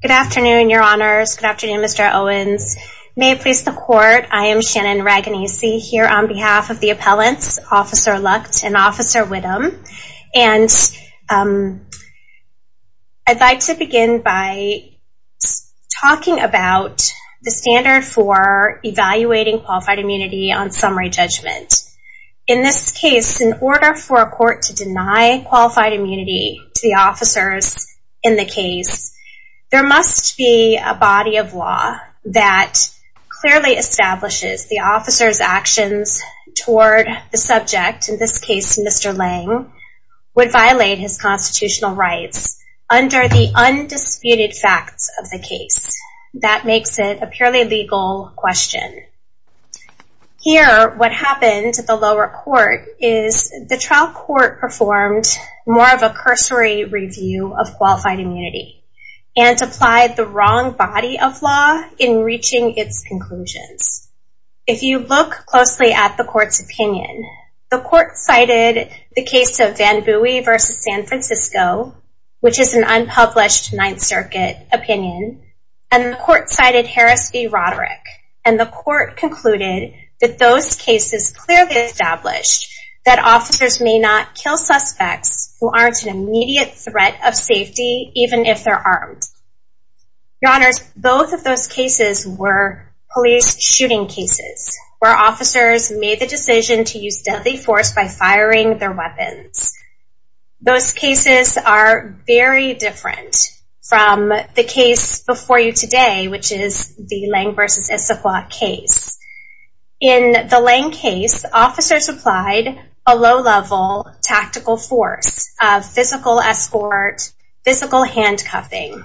Good afternoon, your honors. Good afternoon, Mr. Owens. May it please the court, I am Shannon Raganese here on behalf of the appellants, Officer Lucht and Officer Widom. And I'd like to begin by talking about the standard for evaluating qualified immunity on summary judgment. In this case, in order for a court to deny qualified immunity to the officers in the case, there must be a body of law that clearly establishes the officer's actions toward the subject, in this case Mr. Leng, would violate his constitutional rights under the undisputed facts of the case. That makes it a purely legal question. Here, what happened to the lower court is the trial court performed more of a cursory review of qualified immunity and applied the wrong body of law in reaching its conclusions. If you look closely at the court's opinion, the court cited the case of Van Bui v. San Francisco, which is an unpublished Ninth Circuit opinion, and the court cited Harris v. Roderick. And the court concluded that those cases clearly established that officers may not kill suspects who aren't an immediate threat of safety, even if they're armed. Your Honors, both of those cases were police shooting cases, where officers made the decision to use deadly force by firing their weapons. Those cases are very different from the case before you today, which is the Leng v. Issaquah case. In the Leng case, officers applied a low-level tactical force of physical escort, physical handcuffing.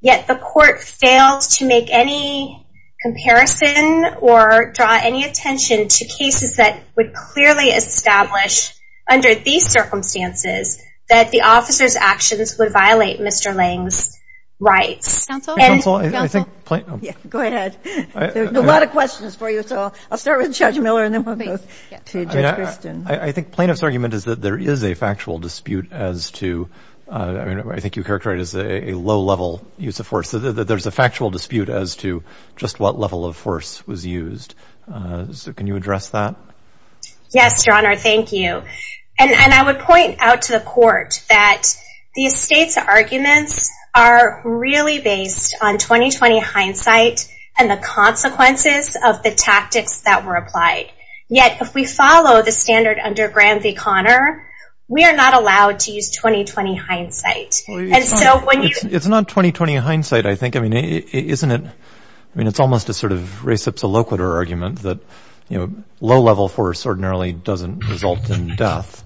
Yet the court failed to make any comparison or draw any attention to cases that would clearly establish, under these circumstances, that the officer's actions would violate Mr. Leng's rights. Counsel? Go ahead. There's a lot of questions for you, so I'll start with Judge Miller and then we'll go to Judge Christin. I think plaintiff's argument is that there is a factual dispute as to—I think you characterized it as a low-level use of force. There's a factual dispute as to just what level of force was used. So can you address that? Yes, Your Honor, thank you. And I would point out to the court that the estate's arguments are really based on 20-20 hindsight and the consequences of the tactics that were applied. Yet, if we follow the standard under Graham v. Connor, we are not allowed to use 20-20 hindsight. It's not 20-20 hindsight, I think. I mean, isn't it—I mean, it's almost a sort of reciprocal argument that low-level force ordinarily doesn't result in death.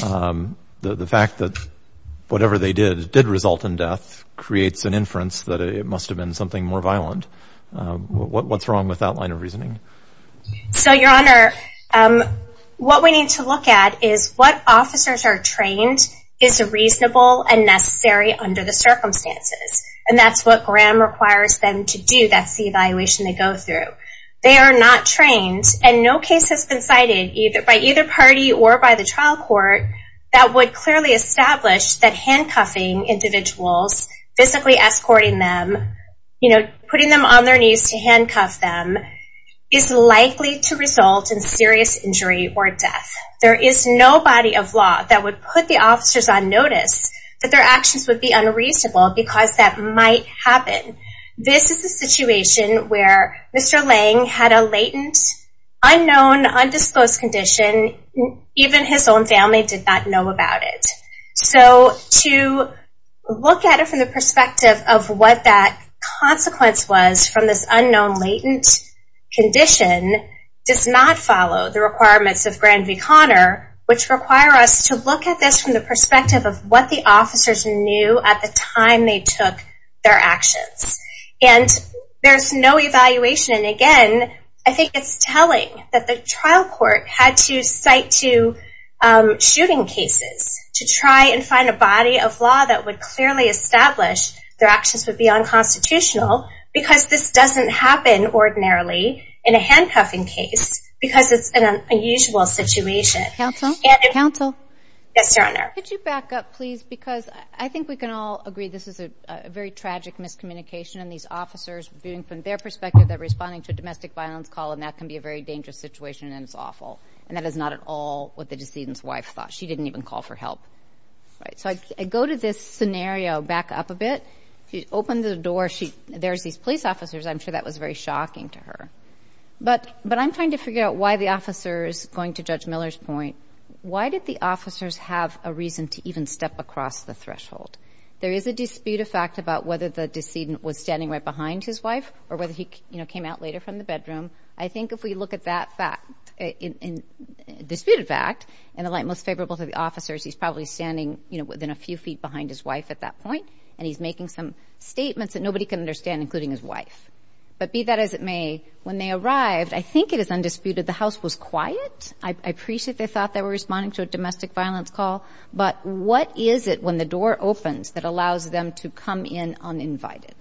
The fact that whatever they did did result in death creates an inference that it must have been something more violent. What's wrong with that line of reasoning? So, Your Honor, what we need to look at is what officers are trained is reasonable and necessary under the circumstances. And that's what Graham requires them to do. That's the evaluation they go through. They are not trained, and no case has been cited by either party or by the trial court that would clearly establish that handcuffing individuals, physically escorting them, you know, putting them on their knees to handcuff them, is likely to result in serious injury or death. There is no body of law that would put the officers on notice that their actions would be unreasonable because that might happen. This is a situation where Mr. Lange had a latent, unknown, undisclosed condition. Even his own family did not know about it. So, to look at it from the perspective of what that consequence was from this unknown latent condition does not follow the requirements of Graham v. Conner, which require us to look at this from the perspective of what the officers knew at the time they took their actions. There's no evaluation, and again, I think it's telling that the trial court had to cite two shooting cases to try and find a body of law that would clearly establish their actions would be unconstitutional because this doesn't happen ordinarily in a handcuffing case because it's an unusual situation. Counsel? Counsel? Yes, Your Honor. Could you back up, please, because I think we can all agree this is a very tragic miscommunication, and these officers, being from their perspective, they're responding to a domestic violence call, and that can be a very dangerous situation, and it's awful. And that is not at all what the decedent's wife thought. She didn't even call for help. So, I go to this scenario back up a bit. If you open the door, there's these police officers. I'm sure that was very shocking to her. But I'm trying to figure out why the officers, going to Judge Miller's point, why did the officers have a reason to even step across the threshold? There is a dispute of fact about whether the decedent was standing right behind his wife or whether he came out later from the bedroom. I think if we look at that fact, a disputed fact, in the light most favorable to the officers, he's probably standing within a few feet behind his wife at that point, and he's making some statements that nobody can understand, including his wife. But be that as it may, when they arrived, I think it is undisputed the house was quiet. I appreciate they thought they were responding to a domestic violence call. But what is it when the door opens that allows them to come in uninvited?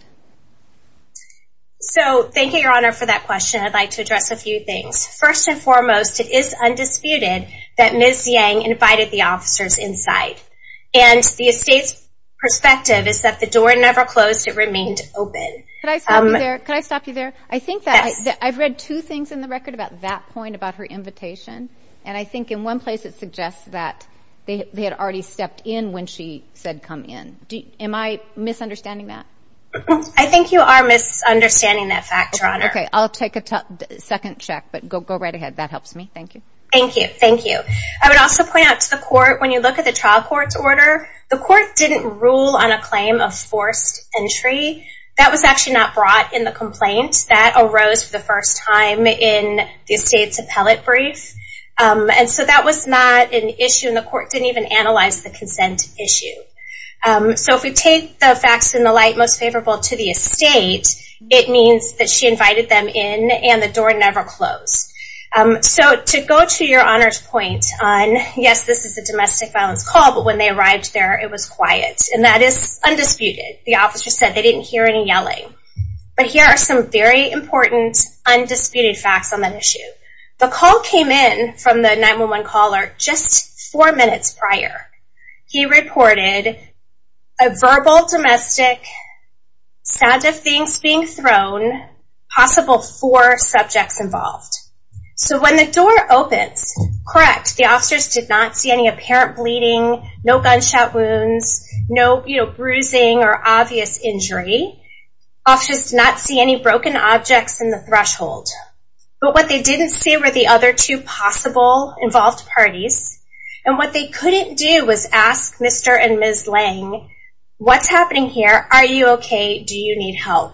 So, thank you, Your Honor, for that question. I'd like to address a few things. First and foremost, it is undisputed that Ms. Yang invited the officers inside. And the estate's perspective is that the door never closed. It remained open. Could I stop you there? Could I stop you there? I think that I've read two things in the record about that point, about her invitation, and I think in one place it suggests that they had already stepped in when she said come in. Am I misunderstanding that? I think you are misunderstanding that fact, Your Honor. Okay. I'll take a second check, but go right ahead. That helps me. Thank you. Thank you. Thank you. I would also point out to the court, when you look at the trial court's order, the court didn't rule on a claim of forced entry. That was actually not brought in the complaint. That arose for the first time in the estate's appellate brief. And so that was not an issue, and the court didn't even analyze the consent issue. So if we take the facts in the light most favorable to the estate, it means that she invited them in and the door never closed. So to go to Your Honor's point on, yes, this is a domestic violence call, but when they arrived there it was quiet, and that is undisputed. The officer said they didn't hear any yelling. But here are some very important undisputed facts on that issue. The call came in from the 911 caller just four minutes prior. He reported a verbal, domestic, sound of things being thrown, possible four subjects involved. So when the door opens, correct, the officers did not see any apparent bleeding, no gunshot wounds, no bruising or obvious injury. Officers did not see any broken objects in the threshold. But what they didn't see were the other two possible involved parties. And what they couldn't do was ask Mr. and Ms. Lange, what's happening here, are you okay, do you need help?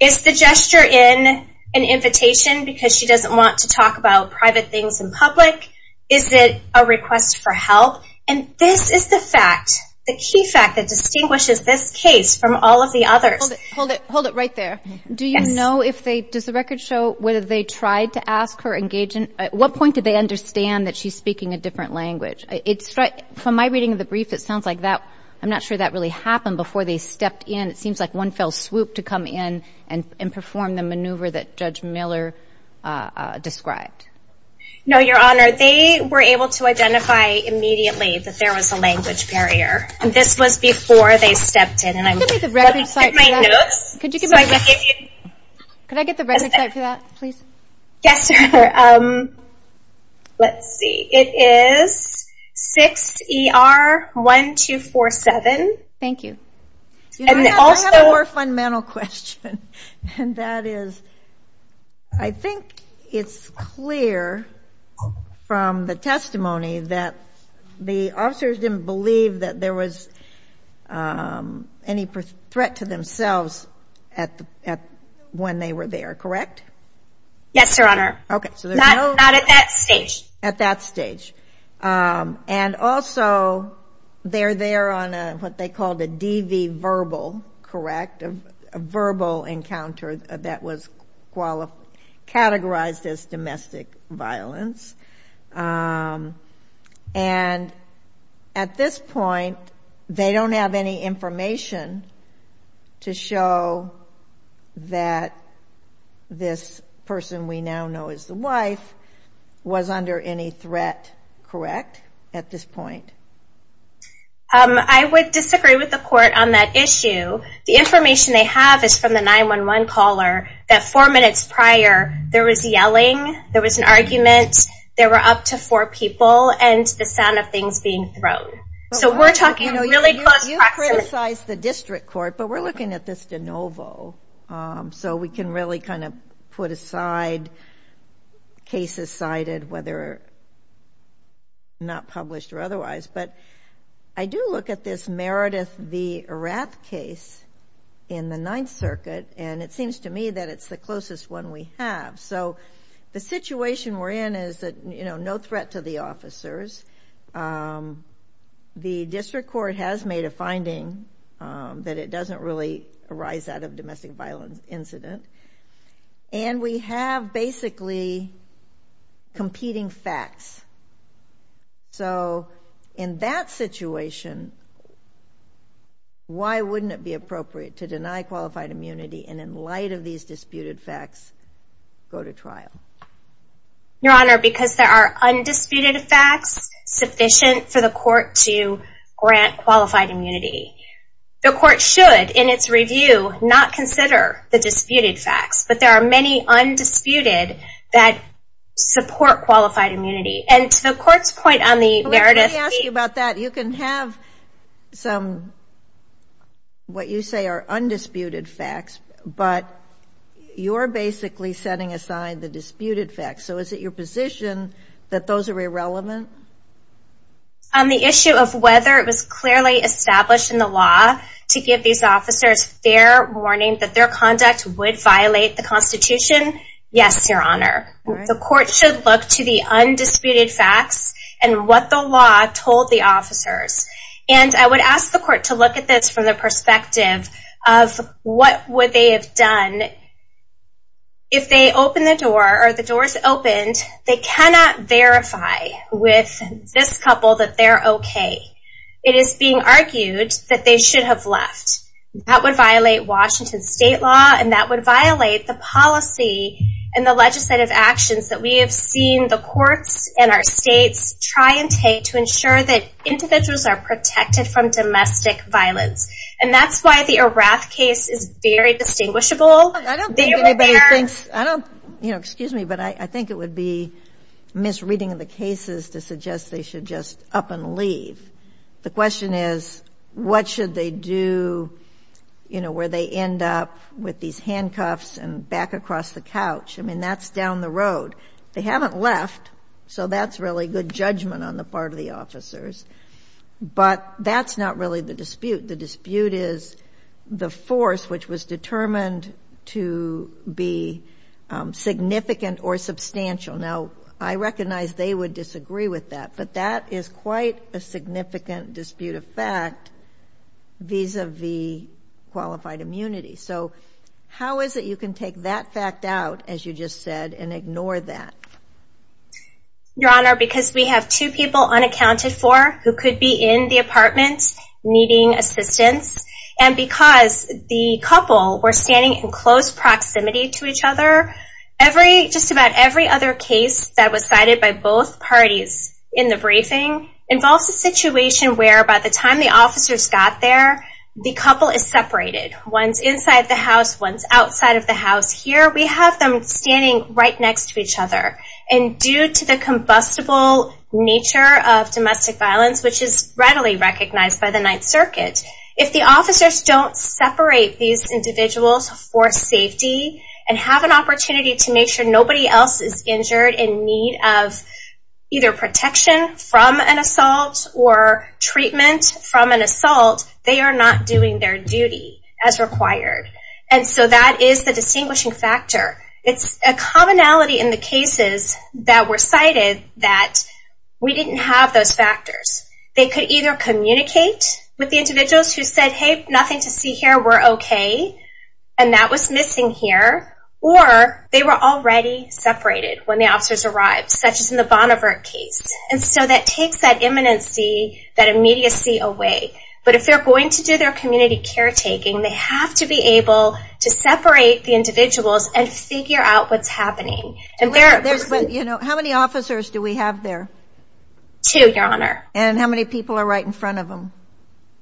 Is the gesture in an invitation because she doesn't want to talk about private things in public? Is it a request for help? And this is the fact, the key fact that distinguishes this case from all of the others. Hold it right there. Do you know if they, does the record show whether they tried to ask her, engage in, at what point did they understand that she's speaking a different language? From my reading of the brief, it sounds like that, I'm not sure that really happened before they stepped in. It seems like one fell swoop to come in and perform the maneuver that Judge Miller described. No, Your Honor, they were able to identify immediately that there was a language barrier. And this was before they stepped in. Could I get the record site for that? Could I get the record site for that, please? Yes, sir. Let's see, it is 6ER1247. Thank you. I have a more fundamental question, and that is, I think it's clear from the testimony that the officers didn't believe that there was any threat to themselves when they were there, correct? Yes, Your Honor. Not at that stage. At that stage. And also, they're there on what they called a DV verbal, correct, a verbal encounter that was categorized as domestic violence. And at this point, they don't have any information to show that this person we now know as the wife was under any threat, correct, at this point? I would disagree with the court on that issue. The information they have is from the 911 caller that four minutes prior, there was yelling, there was an argument, there were up to four people, and the sound of things being thrown. So we're talking really close practice. You criticized the district court, but we're looking at this de novo. So we can really kind of put aside cases cited, whether not published or otherwise. But I do look at this Meredith v. Erath case in the Ninth Circuit, and it seems to me that it's the closest one we have. So the situation we're in is no threat to the officers. The district court has made a finding that it doesn't really arise out of a domestic violence incident. And we have basically competing facts. So in that situation, why wouldn't it be appropriate to deny qualified immunity and in light of these disputed facts, go to trial? Your Honor, because there are undisputed facts sufficient for the court to grant qualified immunity. The court should, in its review, not consider the disputed facts. But there are many undisputed that support qualified immunity. And to the court's point on the Meredith v. Let me ask you about that. You can have some what you say are undisputed facts, but you're basically setting aside the disputed facts. So is it your position that those are irrelevant? On the issue of whether it was clearly established in the law to give these officers fair warning that their conduct would violate the Constitution, yes, Your Honor. The court should look to the undisputed facts and what the law told the officers. And I would ask the court to look at this from the perspective of what would they have done if they opened the door or the doors opened. They cannot verify with this couple that they're okay. It is being argued that they should have left. That would violate Washington state law, and that would violate the policy and the legislative actions that we have seen the courts and our states try and take to ensure that individuals are protected from domestic violence. And that's why the Erath case is very distinguishable. I don't think anybody thinks, you know, excuse me, but I think it would be misreading of the cases to suggest they should just up and leave. The question is what should they do, you know, where they end up with these handcuffs and back across the couch. I mean, that's down the road. They haven't left, so that's really good judgment on the part of the officers. But that's not really the dispute. The dispute is the force which was determined to be significant or substantial. Now, I recognize they would disagree with that, but that is quite a significant dispute of fact vis-a-vis qualified immunity. So how is it you can take that fact out, as you just said, and ignore that? Your Honor, because we have two people unaccounted for who could be in the apartment needing assistance, and because the couple were standing in close proximity to each other, just about every other case that was cited by both parties in the briefing involves a situation where by the time the officers got there, the couple is separated. One's inside the house, one's outside of the house. Here we have them standing right next to each other. And due to the combustible nature of domestic violence, which is readily recognized by the Ninth Circuit, if the officers don't separate these individuals for safety and have an opportunity to make sure nobody else is injured in need of either protection from an assault or treatment from an assault, they are not doing their duty as required. And so that is the distinguishing factor. It's a commonality in the cases that were cited that we didn't have those factors. They could either communicate with the individuals who said, hey, nothing to see here, we're okay, and that was missing here, or they were already separated when the officers arrived, such as in the Bonnevert case. And so that takes that immanency, that immediacy away. But if they're going to do their community caretaking, they have to be able to separate the individuals and figure out what's happening. How many officers do we have there? Two, Your Honor. And how many people are right in front of them?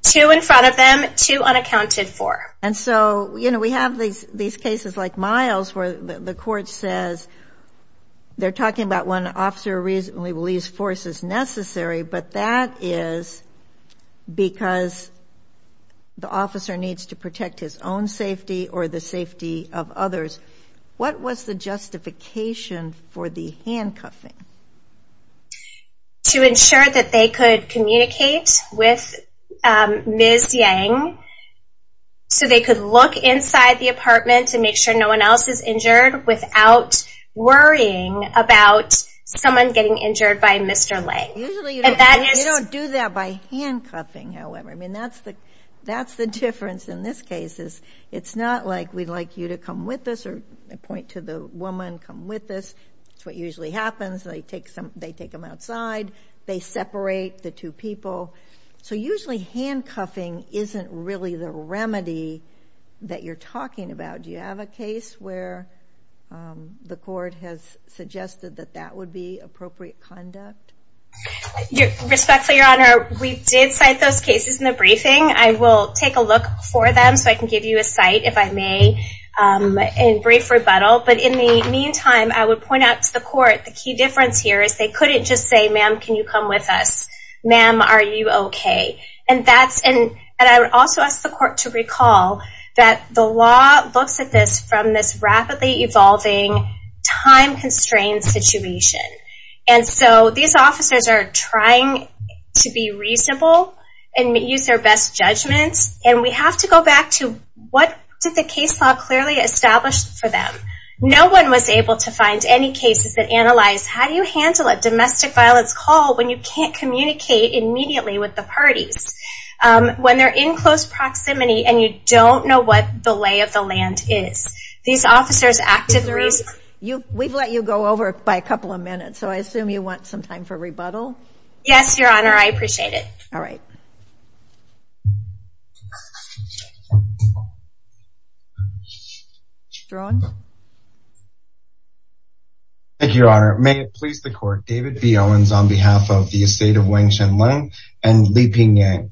Two in front of them, two unaccounted for. And so, you know, we have these cases like Miles where the court says they're talking about when an officer reasonably believes force is necessary, but that is because the officer needs to protect his own safety or the safety of others. What was the justification for the handcuffing? To ensure that they could communicate with Ms. Yang so they could look inside the apartment and make sure no one else is injured without worrying about someone getting injured by Mr. Lang. Usually you don't do that by handcuffing, however. I mean, that's the difference in this case. It's not like we'd like you to come with us or point to the woman, come with us. That's what usually happens. They take them outside. They separate the two people. So usually handcuffing isn't really the remedy that you're talking about. Do you have a case where the court has suggested that that would be appropriate conduct? Respectfully, Your Honor, we did cite those cases in the briefing. I will take a look for them so I can give you a cite if I may in brief rebuttal. But in the meantime, I would point out to the court, the key difference here is they couldn't just say, Ma'am, can you come with us? Ma'am, are you okay? And I would also ask the court to recall that the law looks at this from this rapidly evolving time-constrained situation. And so these officers are trying to be reasonable and use their best judgments. And we have to go back to what did the case law clearly establish for them? No one was able to find any cases that analyzed how do you handle a domestic violence call when you can't communicate immediately with the parties, when they're in close proximity and you don't know what the lay of the land is. These officers acted the reason. We've let you go over it by a couple of minutes, so I assume you want some time for rebuttal? Yes, Your Honor. I appreciate it. All right. Your Honor. Thank you, Your Honor. May it please the court, David B. Owens on behalf of the estate of Wang Shen Leng and Li Ping Yang.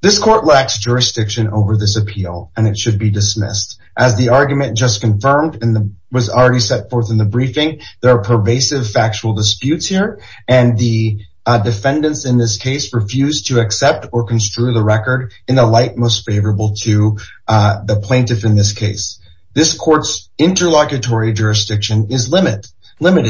This court lacks jurisdiction over this appeal, and it should be dismissed. As the argument just confirmed and was already set forth in the briefing, there are pervasive factual disputes here, and the defendants in this case refuse to accept or construe the record in the light most favorable to the plaintiff in this case. This court's interlocutory jurisdiction is limited,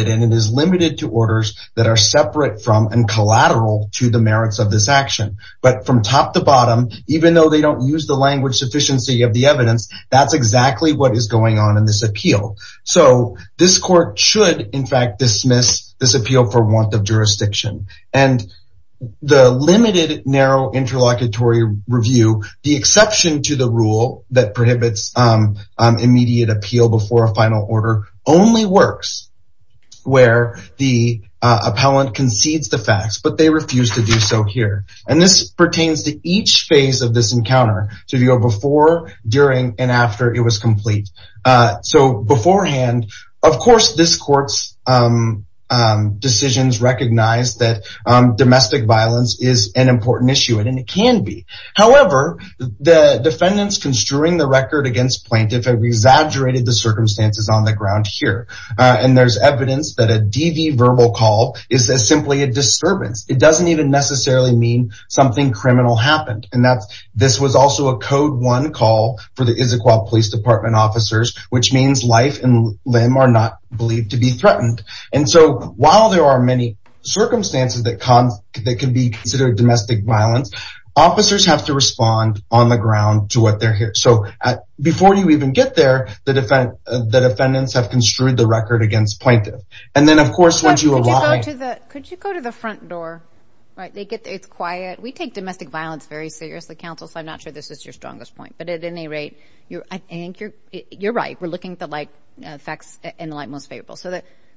and it is limited to orders that are separate from and collateral to the merits of this action. But from top to bottom, even though they don't use the language sufficiency of the evidence, that's exactly what is going on in this appeal. So this court should, in fact, dismiss this appeal for want of jurisdiction. And the limited narrow interlocutory review, the exception to the rule that prohibits immediate appeal before a final order, only works where the appellant concedes the facts, but they refuse to do so here. And this pertains to each phase of this encounter. So if you go before, during, and after it was complete. So beforehand, of course, this court's decisions recognize that domestic violence is an important issue, and it can be. However, the defendants construing the record against plaintiff have exaggerated the circumstances on the ground here. And there's evidence that a DV verbal call is simply a disturbance. It doesn't even necessarily mean something criminal happened. And this was also a code one call for the Issaquah Police Department officers, which means life and limb are not believed to be threatened. And so while there are many circumstances that can be considered domestic violence, officers have to respond on the ground to what they're hearing. So before you even get there, the defendants have construed the record against plaintiff. And then, of course, once you arrive. Could you go to the front door? Right. It's quiet. We take domestic violence very seriously, counsel, so I'm not sure this is your strongest point. But at any rate, I think you're right. We're looking at the facts in the light most favorable. So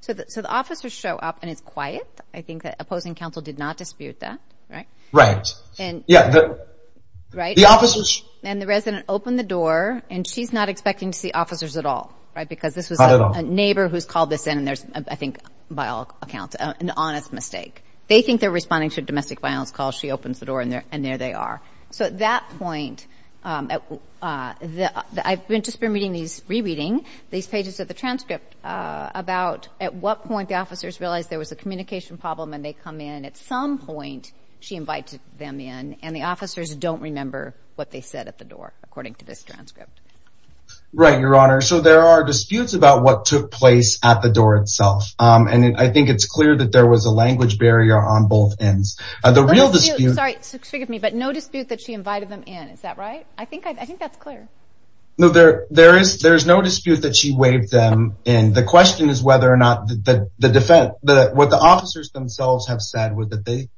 the officers show up, and it's quiet. I think the opposing counsel did not dispute that. Right? Right. And the resident opened the door, and she's not expecting to see officers at all, right? Because this was a neighbor who's called this in, and there's, I think, by all accounts, an honest mistake. They think they're responding to a domestic violence call. She opens the door, and there they are. So at that point, I've just been reading these, re-reading, these pages of the transcript about at what point the officers realized there was a communication problem, and they come in. At some point, she invites them in, and the officers don't remember what they said at the door, according to this transcript. Right, Your Honor. So there are disputes about what took place at the door itself. And I think it's clear that there was a language barrier on both ends. The real dispute. Sorry, forgive me, but no dispute that she invited them in. Is that right? I think that's clear. No, there is no dispute that she waved them in. The question is whether or not the defense, what the officers themselves have said,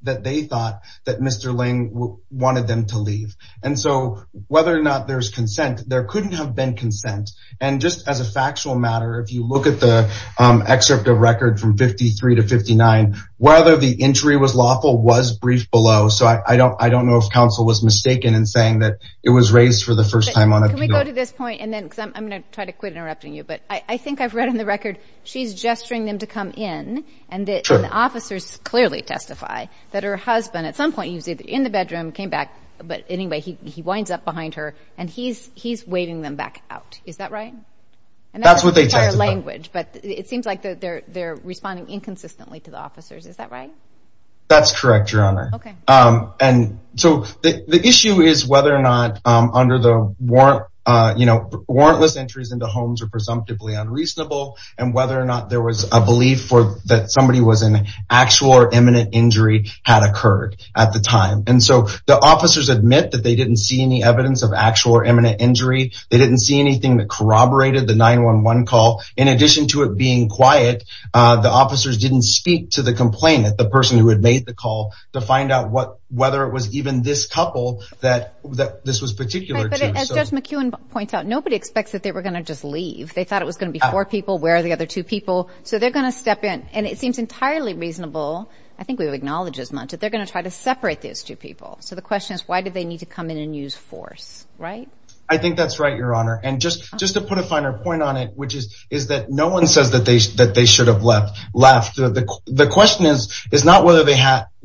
that they thought that Mr. Ling wanted them to leave. And so whether or not there's consent, there couldn't have been consent. And just as a factual matter, if you look at the excerpt of record from 53 to 59, whether the entry was lawful was briefed below. So I don't know if counsel was mistaken in saying that it was raised for the first time on a appeal. Can we go to this point? Because I'm going to try to quit interrupting you. But I think I've read on the record she's gesturing them to come in, and the officers clearly testify that her husband, at some point he was either in the bedroom, came back, but anyway he winds up behind her, and he's waving them back out. Is that right? That's what they testified. But it seems like they're responding inconsistently to the officers. Is that right? That's correct, Your Honor. And so the issue is whether or not under the warrantless entries into homes are presumptively unreasonable, and whether or not there was a belief that somebody was in actual or imminent injury had occurred at the time. And so the officers admit that they didn't see any evidence of actual or imminent injury. They didn't see anything that corroborated the 911 call. In addition to it being quiet, the officers didn't speak to the complainant, the person who had made the call, to find out whether it was even this couple that this was particular to. But as Judge McEwen points out, nobody expects that they were going to just leave. They thought it was going to be four people. Where are the other two people? So they're going to step in, and it seems entirely reasonable, I think we acknowledge as much, that they're going to try to separate those two people. So the question is why did they need to come in and use force, right? I think that's right, Your Honor. And just to put a finer point on it, which is that no one says that they should have left. The question is not whether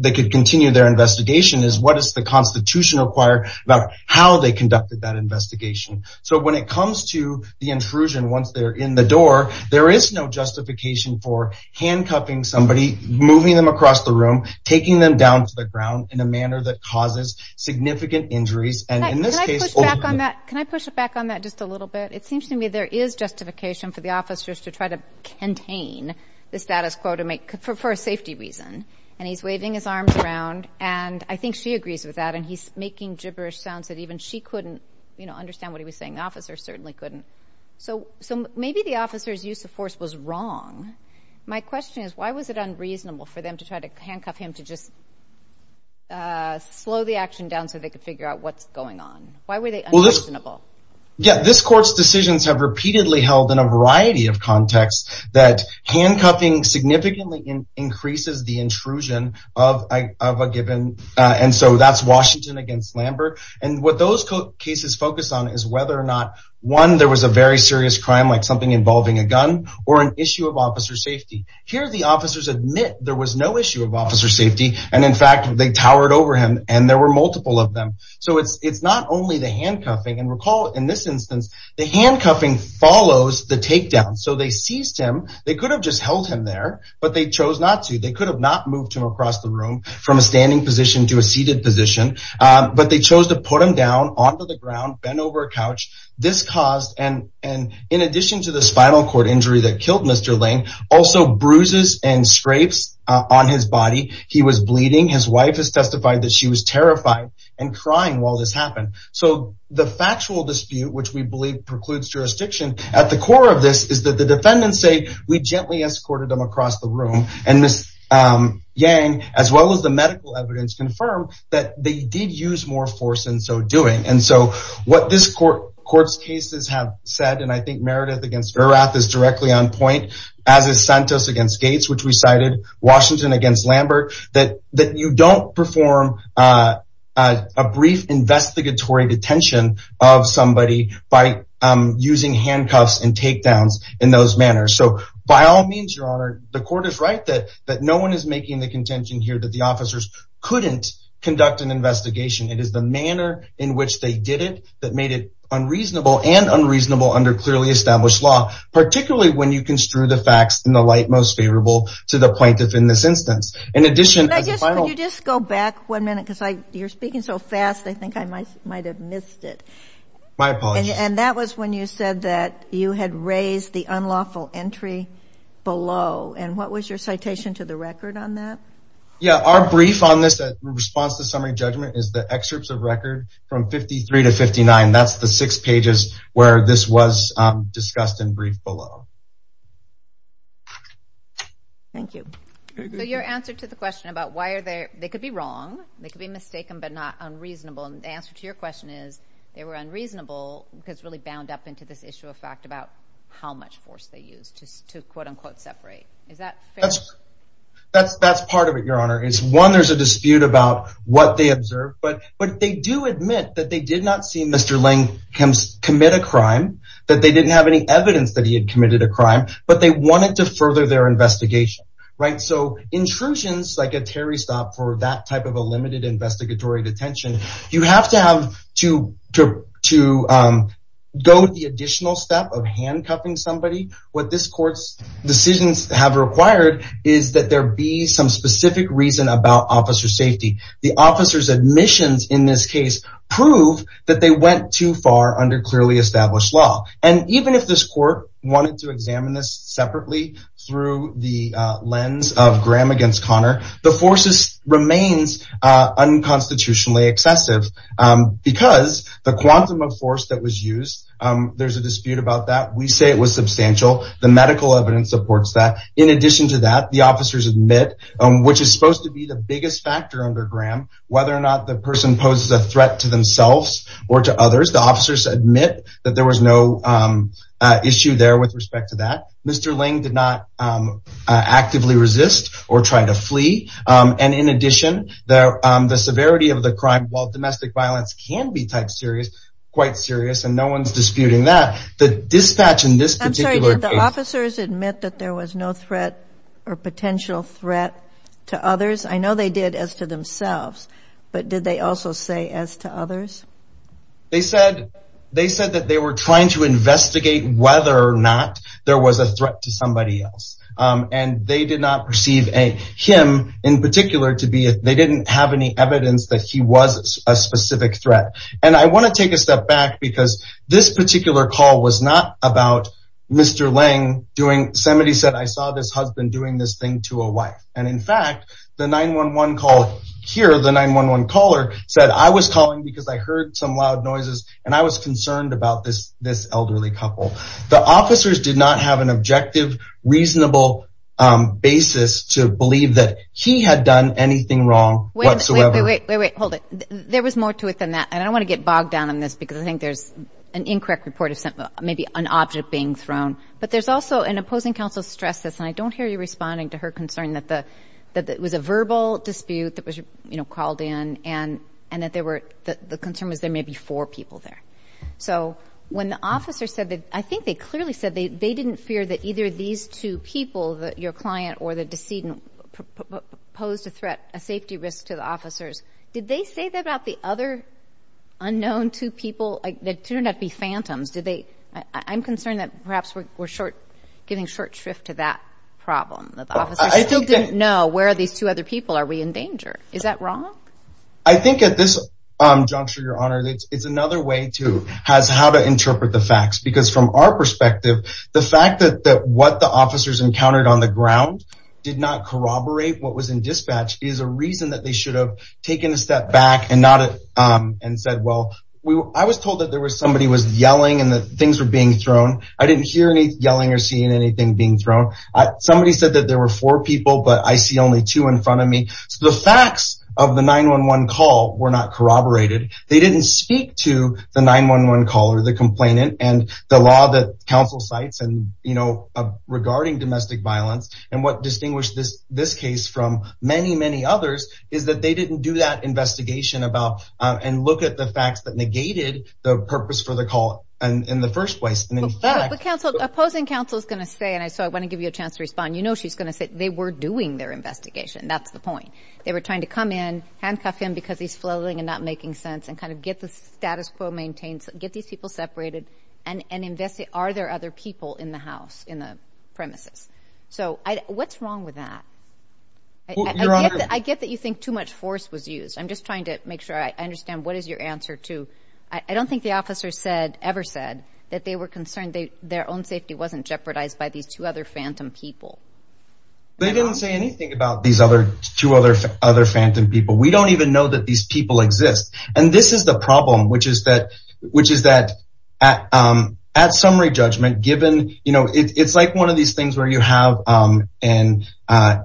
they could continue their investigation, it's what does the Constitution require about how they conducted that investigation. So when it comes to the intrusion, once they're in the door, there is no justification for handcuffing somebody, moving them across the room, taking them down to the ground in a manner that causes significant injuries. Can I push back on that just a little bit? It seems to me there is justification for the officers to try to contain the status quo for a safety reason, and he's waving his arms around, and I think she agrees with that, and he's making gibberish sounds that even she couldn't understand what he was saying, the officers certainly couldn't. So maybe the officers' use of force was wrong. My question is why was it unreasonable for them to try to handcuff him and to just slow the action down so they could figure out what's going on? Why were they unreasonable? Yeah, this court's decisions have repeatedly held in a variety of contexts that handcuffing significantly increases the intrusion of a given, and so that's Washington against Lambert, and what those cases focus on is whether or not, one, there was a very serious crime like something involving a gun, or an issue of officer safety. Here the officers admit there was no issue of officer safety, and in fact they towered over him, and there were multiple of them. So it's not only the handcuffing, and recall in this instance, the handcuffing follows the takedown. So they seized him. They could have just held him there, but they chose not to. They could have not moved him across the room from a standing position to a seated position, but they chose to put him down onto the ground, bent over a couch. This caused, and in addition to the spinal cord injury that killed Mr. Lane, also bruises and scrapes on his body. He was bleeding. His wife has testified that she was terrified and crying while this happened. So the factual dispute, which we believe precludes jurisdiction, at the core of this is that the defendants say, we gently escorted them across the room, and Ms. Yang, as well as the medical evidence, confirmed that they did use more force in so doing, and so what this court's cases have said, and I think Meredith against Erath is directly on point, as is Santos against Gates, which we cited, Washington against Lambert, that you don't perform a brief investigatory detention of somebody by using handcuffs and takedowns in those manners. So by all means, Your Honor, the court is right that no one is making the contention here that the officers couldn't conduct an investigation. It is the manner in which they did it that made it unreasonable and unreasonable under clearly established law, particularly when you construe the facts in the light most favorable to the plaintiff in this instance. In addition, as a final- Could you just go back one minute, because you're speaking so fast, I think I might have missed it. My apologies. And that was when you said that you had raised the unlawful entry below, and what was your citation to the record on that? Yeah, our brief on this response to summary judgment is the excerpts of record from 53 to 59. That's the six pages where this was discussed in brief below. Thank you. So your answer to the question about why are there- they could be wrong, they could be mistaken, but not unreasonable, and the answer to your question is they were unreasonable because it really bound up into this issue of fact about how much force they used to quote-unquote separate. Is that fair? That's part of it, Your Honor. One, there's a dispute about what they observed, but they do admit that they did not see Mr. Lange commit a crime, that they didn't have any evidence that he had committed a crime, but they wanted to further their investigation. So intrusions like a Terry Stop for that type of a limited investigatory detention, you have to have to go the additional step of handcuffing somebody. What this court's decisions have required is that there be some specific reason about officer safety. The officer's admissions in this case prove that they went too far under clearly established law. And even if this court wanted to examine this separately through the lens of Graham against Connor, the force remains unconstitutionally excessive because the quantum of force that was used, there's a dispute about that. We say it was substantial. The medical evidence supports that. In addition to that, the officers admit, which is supposed to be the biggest factor under Graham, whether or not the person poses a threat to themselves or to others, the officers admit that there was no issue there with respect to that. Mr. Lange did not actively resist or try to flee. And in addition, the severity of the crime, while domestic violence can be quite serious, and no one's disputing that, the dispatch in this particular case- Did they say there was a potential threat to others? I know they did as to themselves, but did they also say as to others? They said that they were trying to investigate whether or not there was a threat to somebody else. And they did not perceive him in particular to be- they didn't have any evidence that he was a specific threat. And I want to take a step back because this particular call was not about Mr. Lange doing- Yosemite said, I saw this husband doing this thing to a wife. And in fact, the 911 call- here, the 911 caller said, I was calling because I heard some loud noises and I was concerned about this elderly couple. The officers did not have an objective, reasonable basis to believe that he had done anything wrong whatsoever. Wait, wait, wait, hold it. There was more to it than that, and I don't want to get bogged down on this because I think there's an incorrect report of maybe an object being thrown. But there's also- and opposing counsel stressed this, and I don't hear you responding to her concern that it was a verbal dispute that was called in and that the concern was there may be four people there. So when the officers said that- I think they clearly said they didn't fear that either these two people, your client or the decedent, posed a threat, a safety risk to the officers. Did they say that about the other unknown two people? They turned out to be phantoms. I'm concerned that perhaps we're giving short shrift to that problem, that the officers still didn't know, where are these two other people? Are we in danger? Is that wrong? I think at this juncture, Your Honor, it's another way to how to interpret the facts because from our perspective, the fact that what the officers encountered on the ground did not corroborate what was in dispatch is a reason that they should have taken a step back and said, well, I was told that there was somebody who was yelling and that things were being thrown. I didn't hear any yelling or seeing anything being thrown. Somebody said that there were four people, but I see only two in front of me. So the facts of the 911 call were not corroborated. They didn't speak to the 911 caller, the complainant, and the law that counsel cites regarding domestic violence. And what distinguished this case from many, many others is that they didn't do that investigation and look at the facts that negated the purpose for the call in the first place. But opposing counsel is going to say, and so I want to give you a chance to respond, you know she's going to say they were doing their investigation. That's the point. They were trying to come in, handcuff him because he's flailing and not making sense and kind of get the status quo maintained, get these people separated, and investigate are there other people in the house, in the premises. So what's wrong with that? I get that you think too much force was used. I'm just trying to make sure I understand what is your answer to, I don't think the officer ever said that they were concerned that their own safety wasn't jeopardized by these two other phantom people. They didn't say anything about these two other phantom people. We don't even know that these people exist. And this is the problem, which is that at summary judgment, given, you know, it's like one of these things where you have an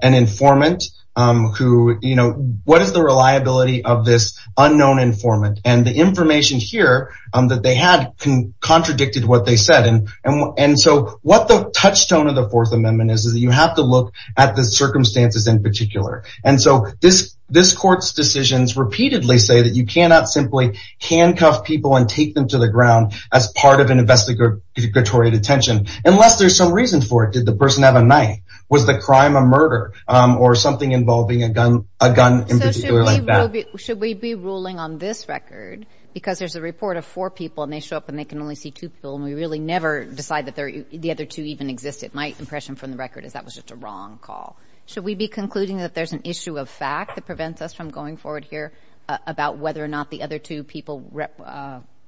informant who, you know, what is the reliability of this unknown informant? And the information here that they had contradicted what they said. And so what the touchstone of the Fourth Amendment is, is that you have to look at the circumstances in particular. And so this court's decisions repeatedly say that you cannot simply handcuff people and take them to the ground as part of an investigatory detention unless there's some reason for it. Did the person have a knife? Was the crime a murder? Or something involving a gun in particular like that? So should we be ruling on this record because there's a report of four people and they show up and they can only see two people and we really never decide that the other two even existed? My impression from the record is that was just a wrong call. Should we be concluding that there's an issue of fact that prevents us from going forward here about whether or not the other two people,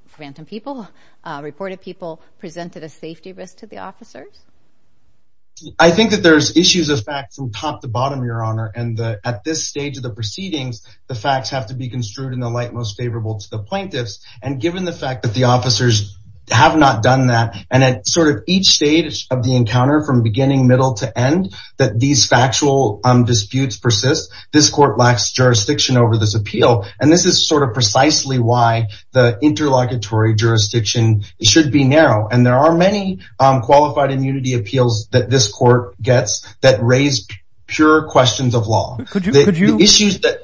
phantom people, reported people, presented a safety risk to the officers? I think that there's issues of fact from top to bottom, Your Honor. And at this stage of the proceedings, the facts have to be construed in the light most favorable to the plaintiffs. And given the fact that the officers have not done that and at sort of each stage of the encounter, from beginning, middle to end, that these factual disputes persist, this court lacks jurisdiction over this appeal. And this is sort of precisely why the interlocutory jurisdiction should be narrow. And there are many qualified immunity appeals that this court gets that raise pure questions of law. The issues that...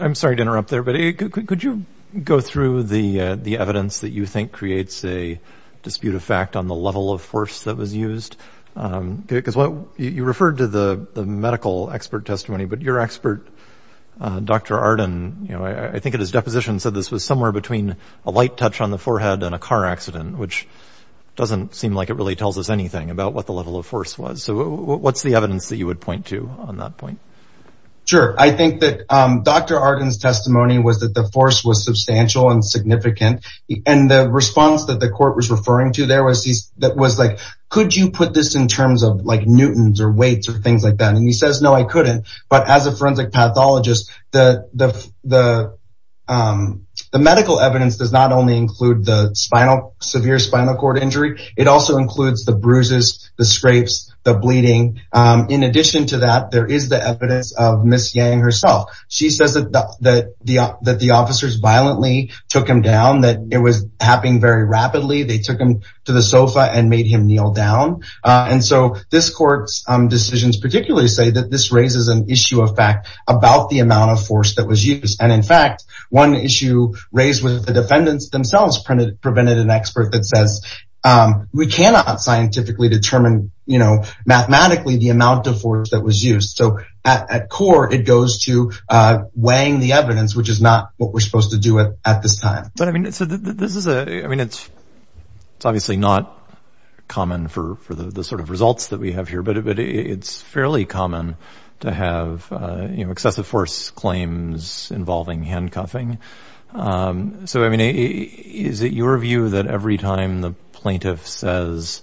I'm sorry to interrupt there, but could you go through the evidence that you think creates a dispute of fact on the level of force that was used? Because you referred to the medical expert testimony, but your expert, Dr. Arden, I think in his deposition said this was somewhere between a light touch on the forehead and a car accident, which doesn't seem like it really tells us anything about what the level of force was. So what's the evidence that you would point to on that point? Sure. I think that Dr. Arden's testimony was that the force was substantial and significant. And the response that the court was referring to there was like, could you put this in terms of like newtons or weights or things like that? And he says, no, I couldn't. But as a forensic pathologist, the medical evidence does not only include the severe spinal cord injury. It also includes the bruises, the scrapes, the bleeding. In addition to that, there is the evidence of Ms. Yang herself. She says that the officers violently took him down, that it was happening very rapidly. They took him to the sofa and made him kneel down. And so this court's decisions particularly say that this raises an issue of fact about the amount of force that was used. And in fact, one issue raised with the defendants themselves prevented an expert that says, we cannot scientifically determine mathematically the amount of force that was used. So at core, it goes to weighing the evidence, which is not what we're supposed to do at this time. But I mean, it's obviously not common for the sort of results that we have here, but it's fairly common to have excessive force claims involving handcuffing. So, I mean, is it your view that every time the plaintiff says,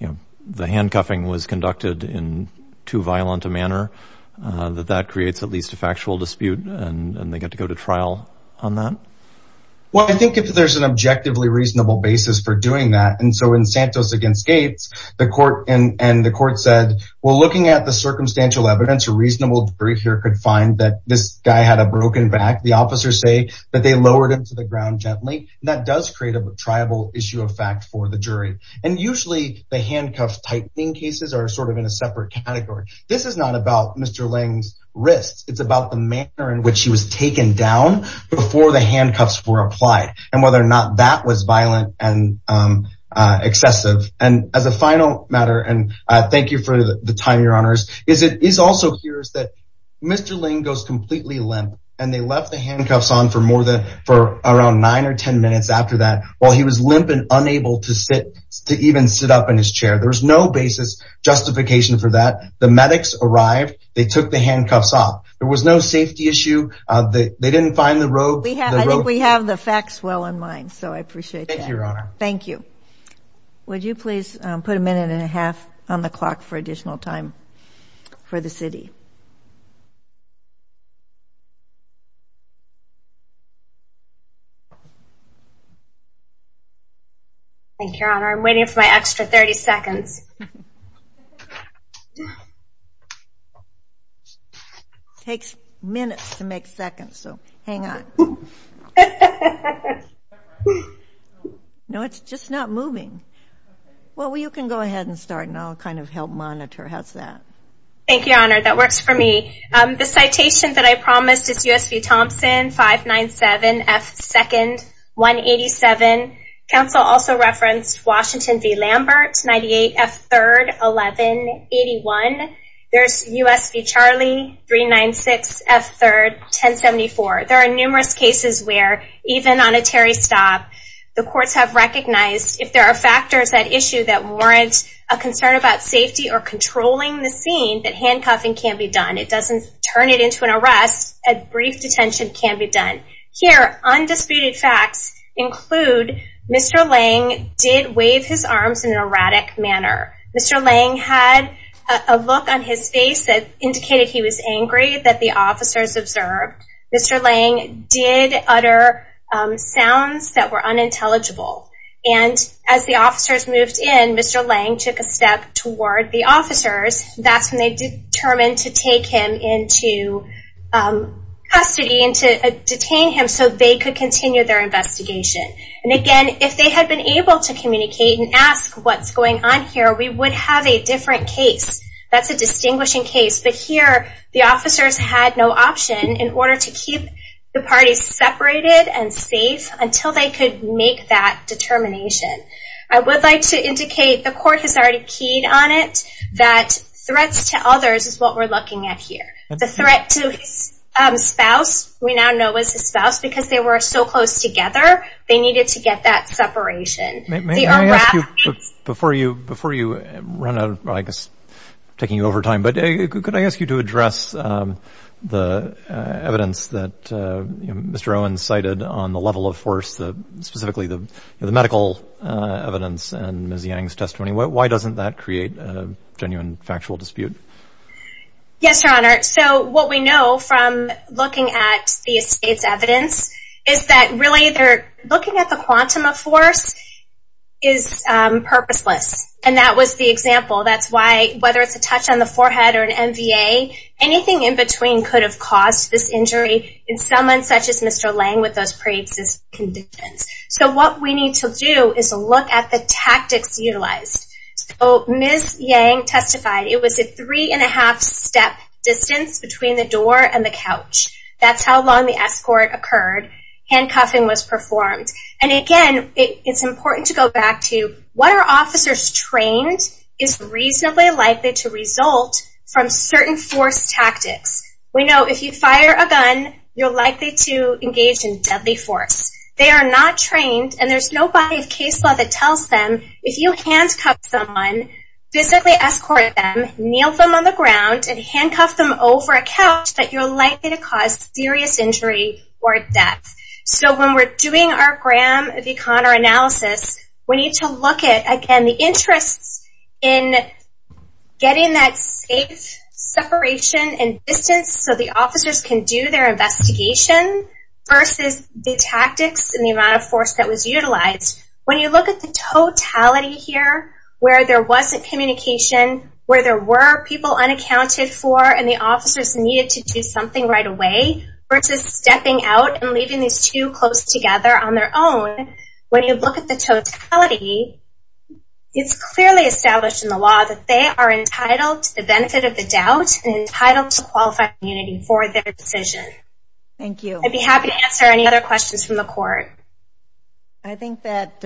you know, the handcuffing was conducted in too violent a manner, that that creates at least a factual dispute and they get to go to trial on that? Well, I think if there's an objectively reasonable basis for doing that, and so in Santos against Gates, the court said, well, looking at the circumstantial evidence, a reasonable jury here could find that this guy had a broken back. The officers say that they lowered him to the ground gently. And that does create a tribal issue of fact for the jury. And usually the handcuff typing cases are sort of in a separate category. This is not about Mr. Lange's wrists. It's about the manner in which he was taken down before the handcuffs were applied and whether or not that was violent and excessive. And as a final matter, and thank you for the time, Your Honors, is it is also curious that Mr. Lange goes completely limp and they left the handcuffs on for more than for around nine or ten minutes after that, while he was limp and unable to sit, to even sit up in his chair. There's no basis justification for that. The medics arrived, they took the handcuffs off. There was no safety issue. They didn't find the rope. I think we have the facts well in mind. So I appreciate that. Thank you, Your Honor. Thank you. Would you please put a minute and a half on the clock for additional time for the city? Thank you, Your Honor. I'm waiting for my extra 30 seconds. It takes minutes to make seconds, so hang on. Is that right? No, it's just not moving. Well, you can go ahead and start, and I'll kind of help monitor. How's that? Thank you, Your Honor. That works for me. The citation that I promised is USV Thompson, 597F2nd, 187. Counsel also referenced Washington v. Lambert, 98F3rd, 1181. There's USV Charlie, 396F3rd, 1074. There are numerous cases where, even on a Terry stop, the courts have recognized if there are factors at issue that warrant a concern about safety or controlling the scene, that handcuffing can be done. It doesn't turn it into an arrest. A brief detention can be done. Here, undisputed facts include Mr. Lange did wave his arms in an erratic manner. Mr. Lange had a look on his face that indicated he was angry that the officers observed. Mr. Lange did utter sounds that were unintelligible. And as the officers moved in, Mr. Lange took a step toward the officers. That's when they determined to take him into custody and to detain him so they could continue their investigation. And again, if they had been able to communicate and ask what's going on here, we would have a different case. That's a distinguishing case. But here, the officers had no option in order to keep the parties separated and safe until they could make that determination. I would like to indicate the court has already keyed on it that threats to others is what we're looking at here. The threat to his spouse, we now know was his spouse, because they were so close together, they needed to get that separation. Before you run out, I guess I'm taking you over time, but could I ask you to address the evidence that Mr. Owens cited on the level of force, specifically the medical evidence and Ms. Yang's testimony? Why doesn't that create a genuine factual dispute? Yes, Your Honor. So what we know from looking at the estate's evidence is that really looking at the quantum of force is purposeless. And that was the example. That's why, whether it's a touch on the forehead or an MVA, anything in between could have caused this injury in someone such as Mr. Lange with those pre-existing conditions. So what we need to do is look at the tactics utilized. Ms. Yang testified it was a three-and-a-half-step distance between the door and the couch. That's how long the escort occurred. Handcuffing was performed. And again, it's important to go back to what are officers trained is reasonably likely to result from certain force tactics. We know if you fire a gun, you're likely to engage in deadly force. They are not trained, and there's no body of case law that tells them if you handcuff someone, physically escort them, kneel them on the ground, and handcuff them over a couch, that you're likely to cause serious injury or death. So when we're doing our Graham v. Connor analysis, we need to look at, again, the interests in getting that safe separation and distance so the officers can do their investigation versus the tactics and the amount of force that was utilized. When you look at the totality here where there wasn't communication, where there were people unaccounted for and the officers needed to do something right away versus stepping out and leaving these two close together on their own, when you look at the totality, it's clearly established in the law that they are entitled to the benefit of the doubt and entitled to qualified immunity for their decision. Thank you. I'd be happy to answer any other questions from the court. I think that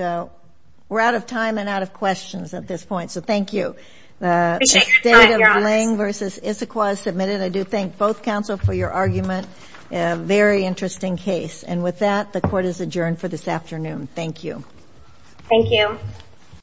we're out of time and out of questions at this point, so thank you. The State of Lange v. Issaquah is submitted. I do thank both counsel for your argument. A very interesting case. And with that, the court is adjourned for this afternoon. Thank you. Thank you.